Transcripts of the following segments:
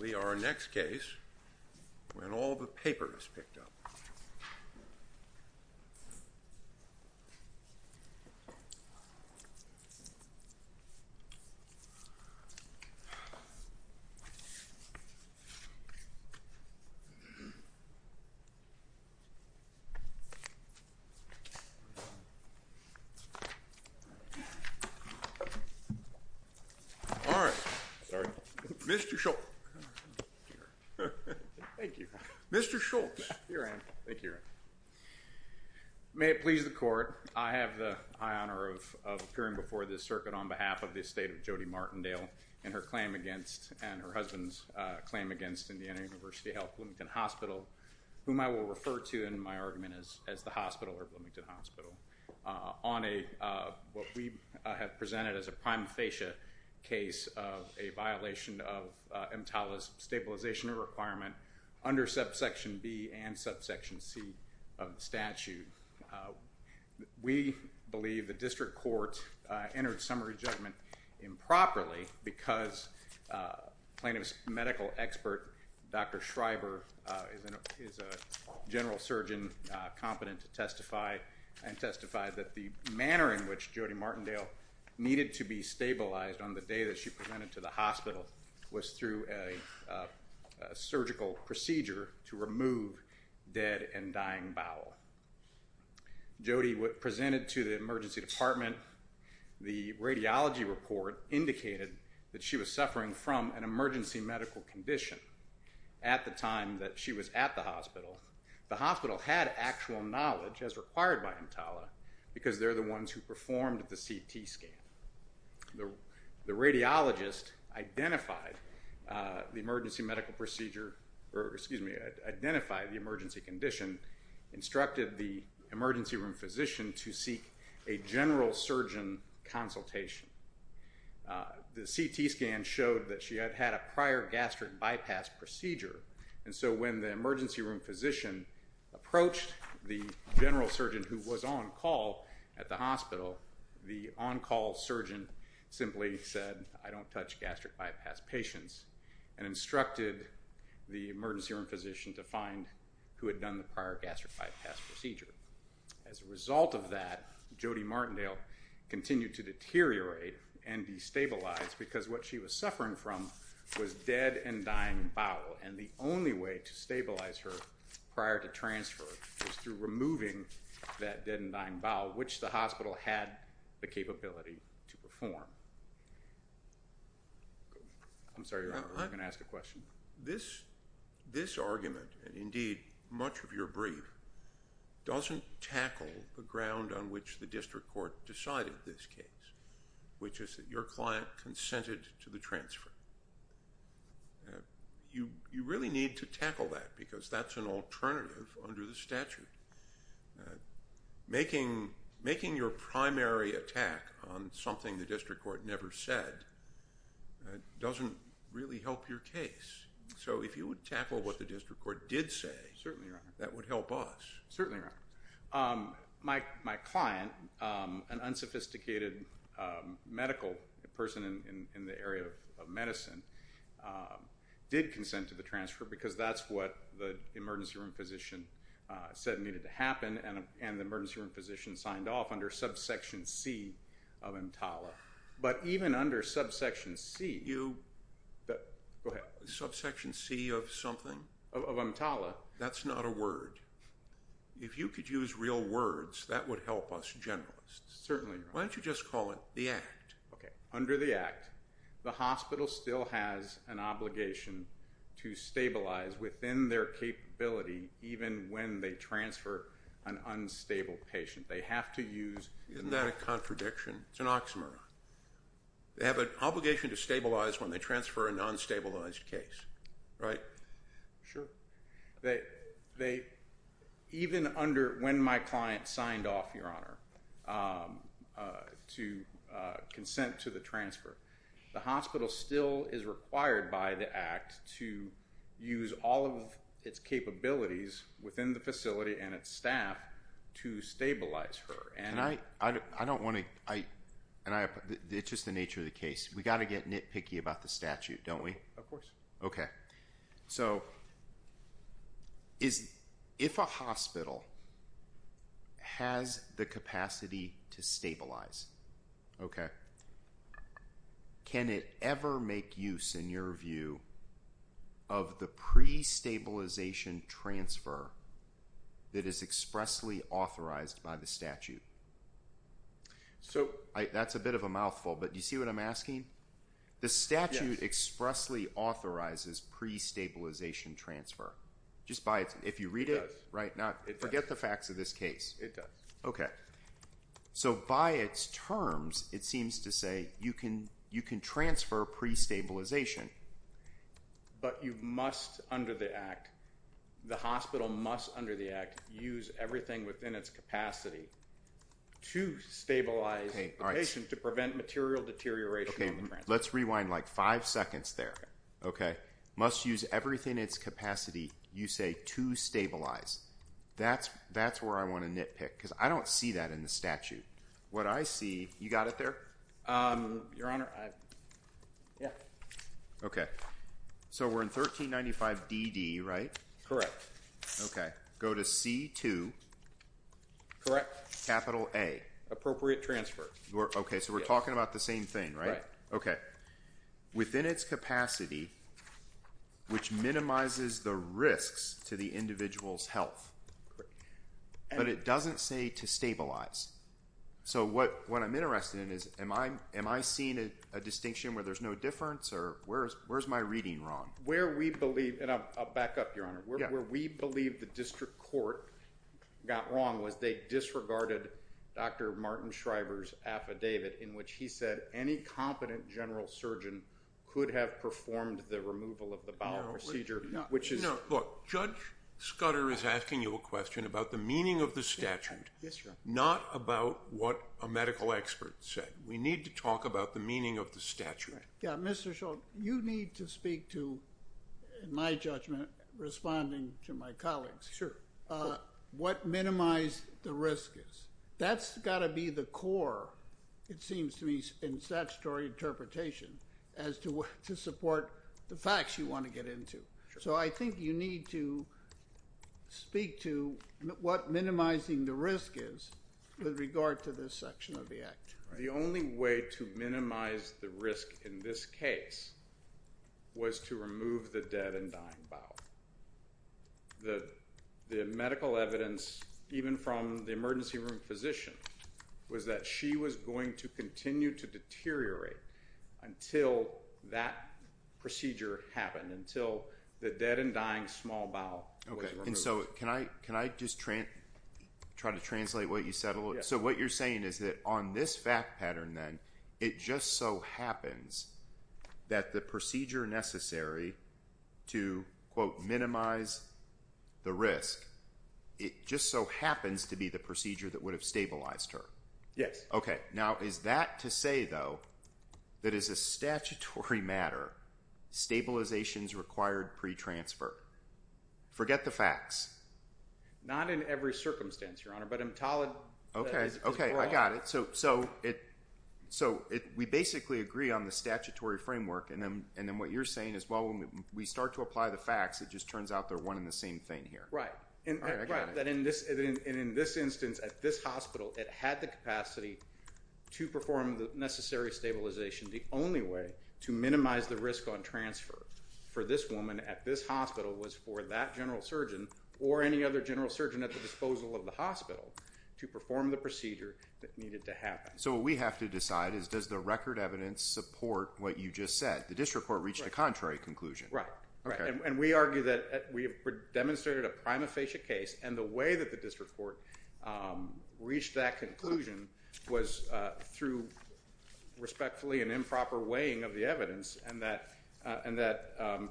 We are next case when all the paper is picked up. All right. Sorry. Mr. Schultz. Thank you. Mr. Schultz. Here I am. Thank you. May it please the court. I have the honor of appearing before the circuit on behalf of the estate of Jody Martindale and her claim against and her husband's claim against Indiana University Health Bloomington Hospital, whom I will refer to in my argument is as the hospital or Bloomington Hospital on a what we have presented as a prime fascia case of a violation of MTALA's stabilization requirement under subsection B and subsection C of the statute. We believe the district court entered summary judgment improperly because plaintiff's medical expert Dr. Schreiber is a general surgeon competent to testify and testified that the manner in which Jody Martindale needed to be stabilized on the day that she presented to the hospital was through a surgical procedure to remove dead and dying bowel. Jody presented to the emergency department. The radiology report indicated that she was suffering from an emergency medical condition at the time that she was at the hospital. The hospital had actual knowledge as required by MTALA because they're the ones who performed the CT scan. The radiologist identified the emergency medical procedure, or excuse me, identified the emergency condition, instructed the emergency room physician to seek a general surgeon consultation. The CT scan showed that she had had a prior gastric bypass procedure and so when the emergency room physician approached the general surgeon who was on call at the hospital, the on-call surgeon simply said, I don't touch gastric bypass patients and instructed the emergency room physician to find who had done the prior gastric bypass procedure. As a result of that, Jody Martindale continued to deteriorate and destabilize because what she was suffering from was dead and dying bowel and the only way to stabilize her prior to transfer was through removing that dead and dying bowel, which the hospital had the capability to perform. I'm sorry, Your Honor, I was going to ask a question. This argument, and indeed much of your brief, doesn't tackle the ground on which the district court decided this case, which is that your client consented to the transfer. You really need to tackle that because that's an alternative under the statute. Making your primary attack on something the district court never said doesn't really help your case. So if you would tackle what the district court did say, that would help us. Certainly, Your Honor. My client, an unsophisticated medical person in the area of medicine, did consent to the transfer because that's what the emergency room physician said needed to But even under subsection C of EMTALA, that's not a word. If you could use real words, that would help us generalists. Why don't you just call it the act? Under the act, the hospital still has an obligation to stabilize within their capability even when they transfer an unstable patient. They have to use... Isn't that a contradiction? It's an oxymoron. They have an obligation to stabilize when they transfer a non-stabilized case, right? Sure. Even when my client signed off, Your Honor, to consent to the transfer, the hospital still is required by the act to use all of its capabilities within the facility and its staff to stabilize her. I don't want to... It's just the nature of the case. We've got to get nitpicky about the statute, don't we? Of course. If a hospital has the capacity to stabilize, can it ever make use, in your view, of the pre-stabilization transfer that is expressly authorized by the statute? That's a bit of pre-stabilization transfer. If you read it... It does. Forget the facts of this case. It does. Okay. So by its terms, it seems to say you can transfer pre-stabilization... But you must, under the act, the hospital must, under the act, use everything within its capacity to stabilize the patient to prevent material deterioration. Okay. Let's rewind like five seconds there. Okay. Must use everything in its capacity, you say, to stabilize. That's where I want to nitpick because I don't see that in the statute. What I see... You got it there? Your Honor, I... Yeah. Okay. So we're in 1395DD, right? Correct. Okay. Go to C2. Correct. Capital A. Appropriate transfer. Okay. So we're talking about the same thing, right? Right. Okay. Within its capacity, which minimizes the risks to the individual's health, but it doesn't say to stabilize. So what I'm interested in is, am I seeing a distinction where there's no difference or where's my reading wrong? Where we believe... And I'll back up, Your Honor. Yeah. Where we believe the district court got wrong was they disregarded Dr. Martin Shriver's affidavit in which he said any competent general surgeon could have performed the removal of the bowel procedure, which is... No. Look, Judge Scudder is asking you a question about the meaning of the statute, not about what a medical expert said. We need to talk about the meaning of the statute. Yeah. Mr. Shultz, you need to speak to, in my judgment, responding to my colleagues. Sure. What minimize the risk is. That's got to be the core, it seems to me, in statutory interpretation as to support the facts you want to get into. So I think you need to speak to what minimizing the risk is with regard to this section of the act. The only way to minimize the risk in this case was to remove the dead and dying bowel. The medical evidence, even from the emergency room physician, was that she was going to continue to deteriorate until that procedure happened, until the dead and dying small bowel was removed. So can I just try to translate what you said? So what you're saying is that on this fact pattern, then, it just so happens that the procedure necessary to, quote, minimize the risk, it just so happens to be the procedure that would have stabilized her. Yes. Okay. Now, is that to say, though, that as a statutory matter, stabilizations required pre-transfer? Forget the facts. Not in every circumstance, Your Honor, but I'm telling that it's wrong. Okay, I got it. So we basically agree on the statutory framework, and then what you're saying is, well, when we start to apply the facts, it just turns out they're one and the same thing here. Right. All right, I got it. And in this instance, at this hospital, it had the capacity to perform the necessary stabilization. The only way to minimize the risk on transfer for this woman at this hospital was for that general surgeon or any other general surgeon at the disposal of the hospital to perform the procedure that needed to happen. So what we have to decide is, does the record evidence support what you just said? The district court reached a contrary conclusion. Right, and we argue that we demonstrated a prima facie case, and the way that the district court reached that conclusion was through respectfully an improper weighing of the evidence, and that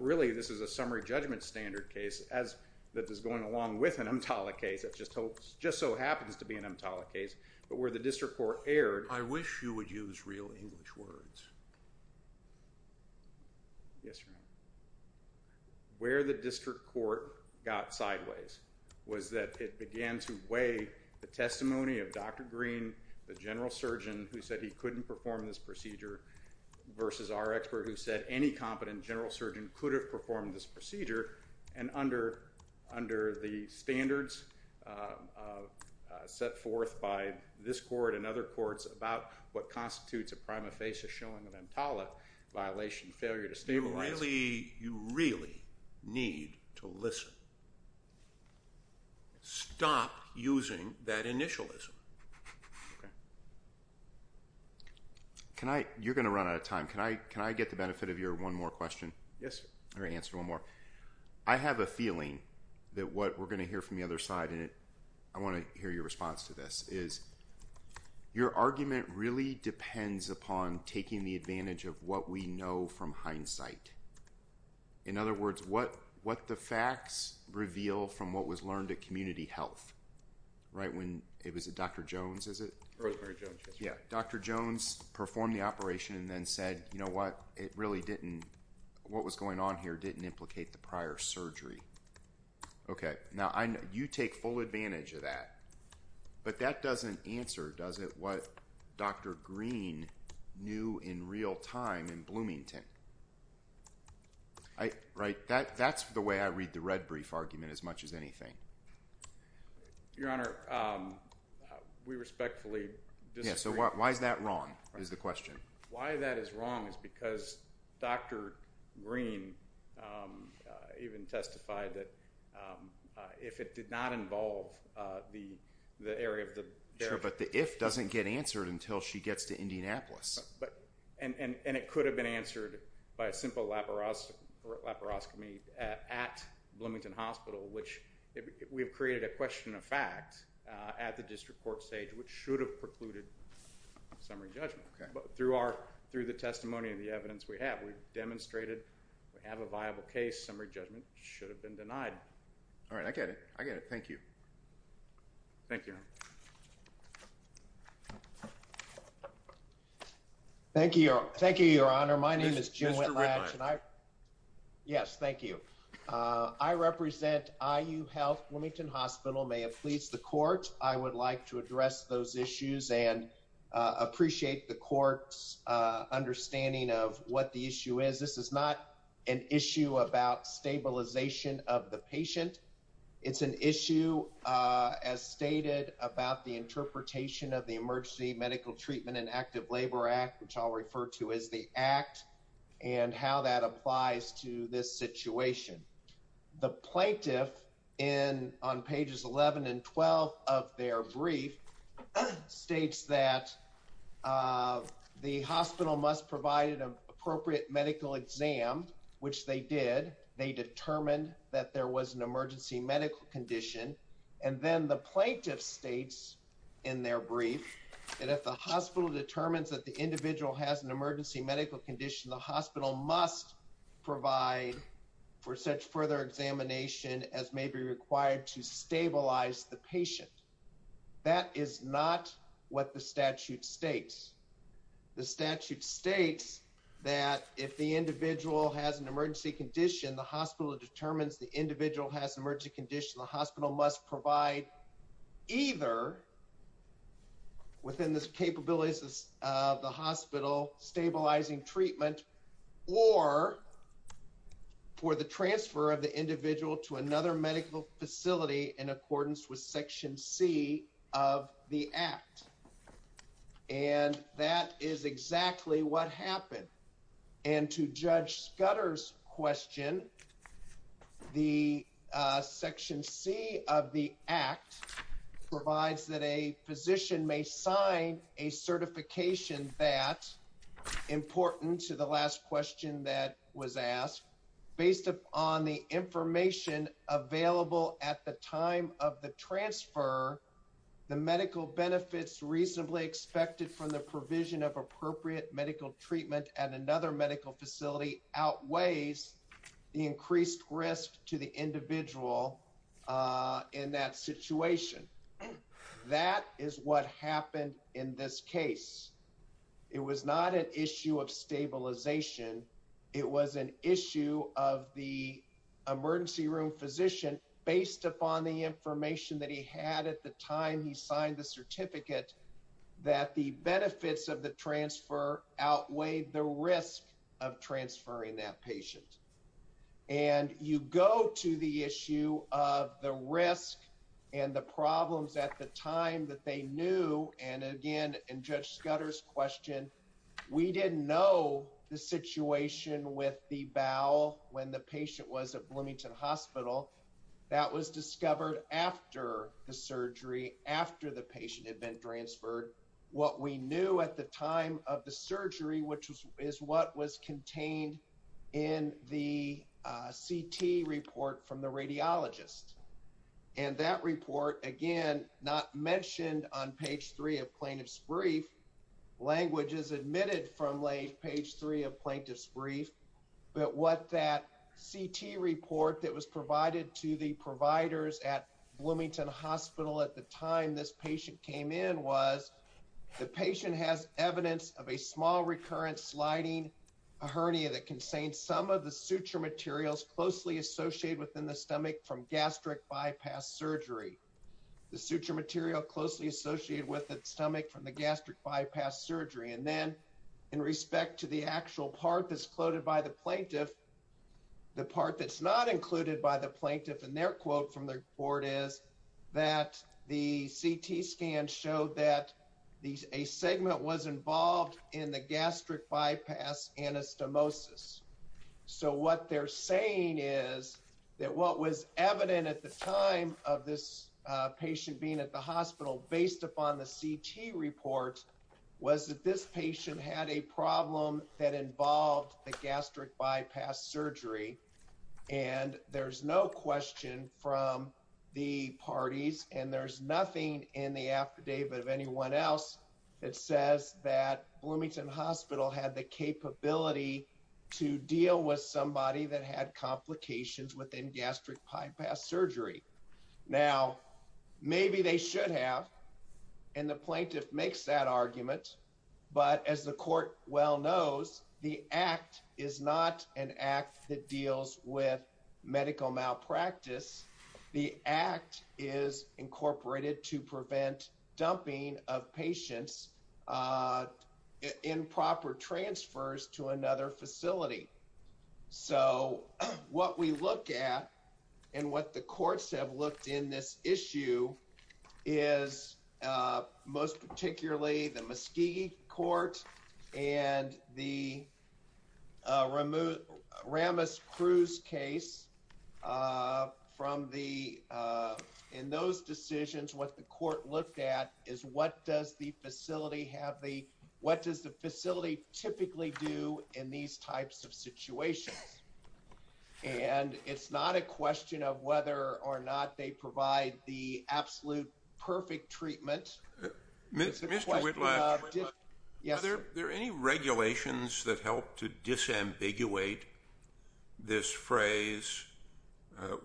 really this is a summary judgment standard case that is going along with an EMTALA case that just so happens to be an EMTALA case, but where the district court erred. I wish you would use real English words. Yes, Your Honor. Where the district court got sideways was that it began to weigh the testimony of Dr. Green, the general surgeon who said he couldn't perform this procedure, versus our expert who said any competent general surgeon could have performed this procedure, and under the standards set forth by this court and other courts about what constitutes a prima facie showing of EMTALA violation, failure to stabilize. You really need to listen. Stop using that initialism. Okay. You're going to run out of time. Can I get the benefit of your one more question? Yes, sir. Or answer one more. I have a feeling that what we're going to hear from the other side, and I want to hear your response to this, is your argument really depends upon taking the advantage of what we know from hindsight. In other words, what the facts reveal from what was learned at Community Health, right when it was Dr. Jones, is it? Rosemary Jones. Yeah. Dr. Jones performed the operation and then said, you know what, it really didn't what was going on here didn't implicate the prior surgery. Okay. Now, you take full advantage of that. But that doesn't answer, does it, what Dr. Green knew in real time in Bloomington. Right? That's the way I read the red brief argument as much as anything. Your Honor, we respectfully disagree. Yeah, so why is that wrong, is the question. Why that is wrong is because Dr. Green even testified that if it did not involve the area of the... Sure, but the if doesn't get answered until she gets to Indianapolis. And it could have been answered by a simple laparoscopy at Bloomington Hospital, which we have created a question of fact at the district court stage, which should have precluded summary judgment. But through our, through the testimony of the evidence we have, we've demonstrated we have a viable case. Summary judgment should have been denied. All right, I get it. I get it. Thank you. Thank you. Thank you, Your Honor. Thank you, Your Honor. My name is Jim Whitlatch. Yes, thank you. I represent IU Health Bloomington Hospital. May it please the court, I would like to address those issues and appreciate the court's understanding of what the issue is. This is not an issue about stabilization of the patient. It's an issue, as stated, about the interpretation of the Emergency Medical Treatment and Active Labor Act, which I'll refer to as the act, and how that applies to this situation. The plaintiff, on pages 11 and 12 of their brief, states that the hospital must provide an appropriate medical exam, which they did. They determined that there was an emergency medical condition. And then the plaintiff states in their brief that if the hospital determines that the individual has an emergency medical condition, the hospital must provide for such further examination as may be required to stabilize the patient. That is not what the statute states. The statute states that if the individual has an emergency condition, the hospital determines the individual has an emergency condition, the hospital must provide either, within the capabilities of the hospital, stabilizing treatment, or for the transfer of the individual to another medical facility in accordance with Section C of the act. And that is exactly what happened. And to Judge Scudder's question, the Section C of the act provides that a physician may sign a certification that, important to the last question that was asked, based upon the information available at the time of the transfer, the medical benefits reasonably expected from the provision of appropriate medical treatment at another medical facility outweighs the increased risk to the individual in that situation. That is what happened in this case. It was not an issue of stabilization. It was an issue of the emergency room physician, based upon the information that he had at the time he was transferred, and the risk of transferring that patient. And you go to the issue of the risk and the problems at the time that they knew, and again, in Judge Scudder's question, we didn't know the situation with the bowel when the patient was at Bloomington Hospital. That was discovered after the surgery, after the patient had been transferred. What we knew at the time of the surgery, which is what was contained in the CT report from the radiologist, and that report, again, not mentioned on page 3 of plaintiff's brief, language is admitted from page 3 of plaintiff's brief, but what that CT report that was provided to the providers at Bloomington Hospital at the time this patient came in was the patient has evidence of a small recurrent sliding hernia that contains some of the suture materials closely associated within the stomach from gastric bypass surgery. The suture material closely associated with the stomach from the gastric bypass surgery. And then in respect to the actual part that's quoted by the plaintiff, the part that's not included by the plaintiff in their quote from the report is that the CT scan showed that a segment was involved in the gastric bypass anastomosis. So what they're saying is that what was evident at the time of this patient being at the hospital based upon the CT report was that this patient had a problem that involved the gastric bypass surgery and there's no question from the parties and there's nothing in the affidavit of anyone else that says that Bloomington Hospital had the capability to deal with somebody that had complications within gastric bypass surgery. Now maybe they should have and the plaintiff makes that argument but as the court well knows the act is not an act that deals with medical malpractice. The act is incorporated to prevent dumping of patients in proper transfers to another facility. So what we look at and what the courts have looked in this issue is most particularly the Muskegee court and the Ramus Cruz case from the in those decisions what the court looked at is what does the facility have the what does the facility typically do in these types of situations. And it's not a question of whether or not they provide the absolute perfect treatment. Mr. Whitlock, are there any regulations that help to disambiguate this phrase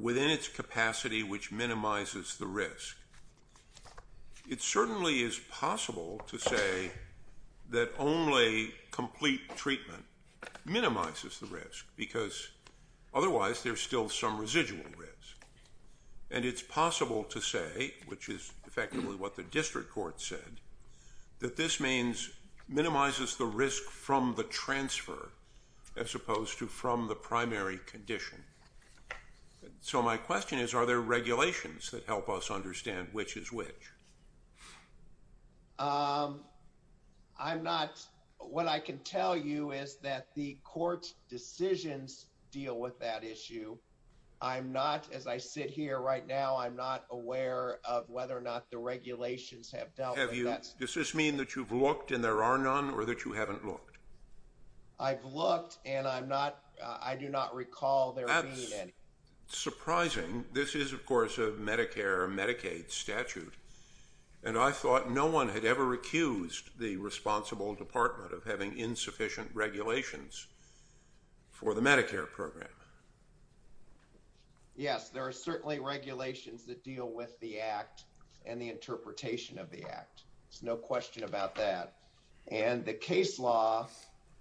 within its capacity which minimizes the risk. It certainly is possible to say that only complete treatment minimizes the risk because otherwise there's still some residual risk and it's possible to say which is effectively what the district court said that this means minimizes the risk from the transfer as opposed to from the primary condition. So my question is are there regulations that help us understand which is which. I'm not what I can tell you is that the court's decisions deal with that issue. I'm not as I sit here right now I'm not aware of whether or not the regulations have dealt have you. Does this mean that you've looked and there are none or that you haven't looked. I've looked and I'm not I do not recall there surprising. This is of course a Medicare Medicaid statute and I thought no one had ever accused the responsible department of having insufficient regulations for the Medicare program. Yes there are certainly regulations that deal with the act and the interpretation of the act. There's no question about that. And the case law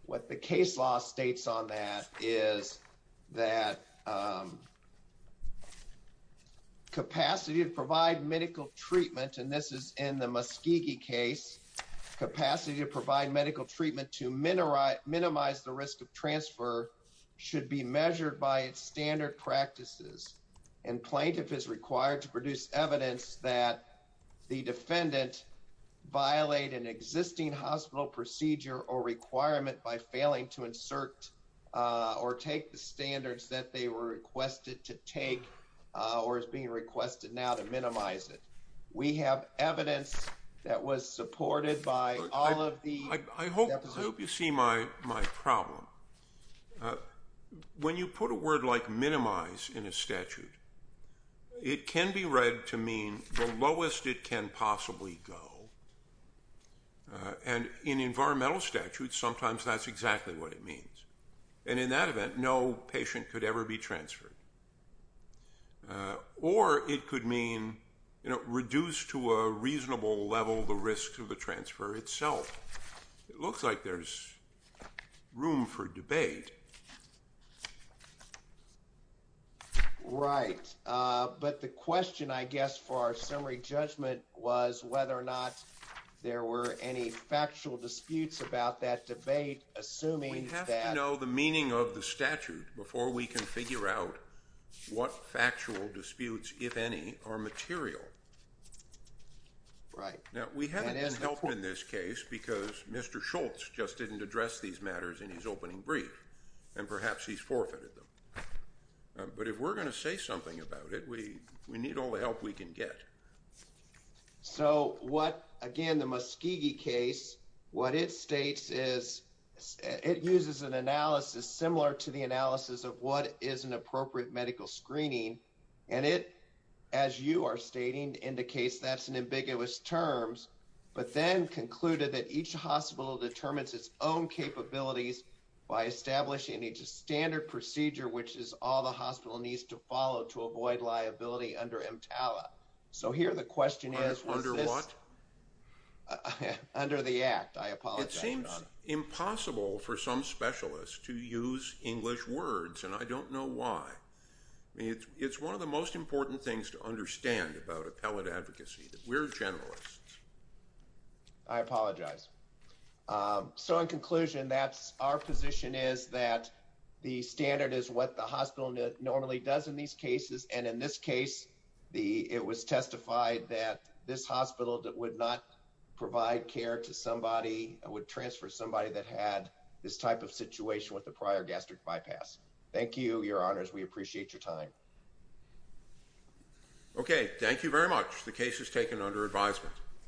what the case law states on that is that capacity to provide medical treatment and this is in the Muskie case capacity to provide medical treatment to minimize minimize the risk of transfer should be measured by its standard practices and plaintiff is required to produce evidence that the defendant violate an existing hospital procedure or requirement by failing to insert or take the standards that they were requested to take or is being requested now to minimize it. We have evidence that was supported by all of the I hope you see my my problem when you put a word like statute. It can be read to mean the lowest it can possibly go and in environmental statutes sometimes that's exactly what it means. And in that event no patient could ever be transferred or it could mean reduced to a reasonable level the risks of the transfer itself. It looks like there's room for debate right. But the question I guess for our summary judgment was whether or not there were any factual disputes about that debate. Assuming that you know the meaning of the statute before we can figure out what factual disputes if any are material right now. We haven't been helpful in this case because Mr. Schultz just didn't address these matters in his opening brief and perhaps he's forfeited them. But if we're going to say something about it we we need all the help we can get. So what again the Muskie case what it states is it uses an analysis similar to the analysis of what is an appropriate medical screening and it as you are stating indicates that's an ambiguous terms but then concluded that each hospital determines its own capabilities by establishing a standard procedure which is all the hospital needs to follow to avoid liability under EMTALA. So here the question is under what under the act. I apologize. It seems impossible for some specialists to use English words and I don't know why. It's one of the most important things to understand about appellate advocacy that we're generalists. I apologize. So in conclusion that's our position is that the standard is what the hospital normally does in these cases and in this case the it was testified that this hospital that would not with the prior gastric bypass. Thank you. Your honors. We appreciate your time. Okay. Thank you very much. The case is taken under advisement.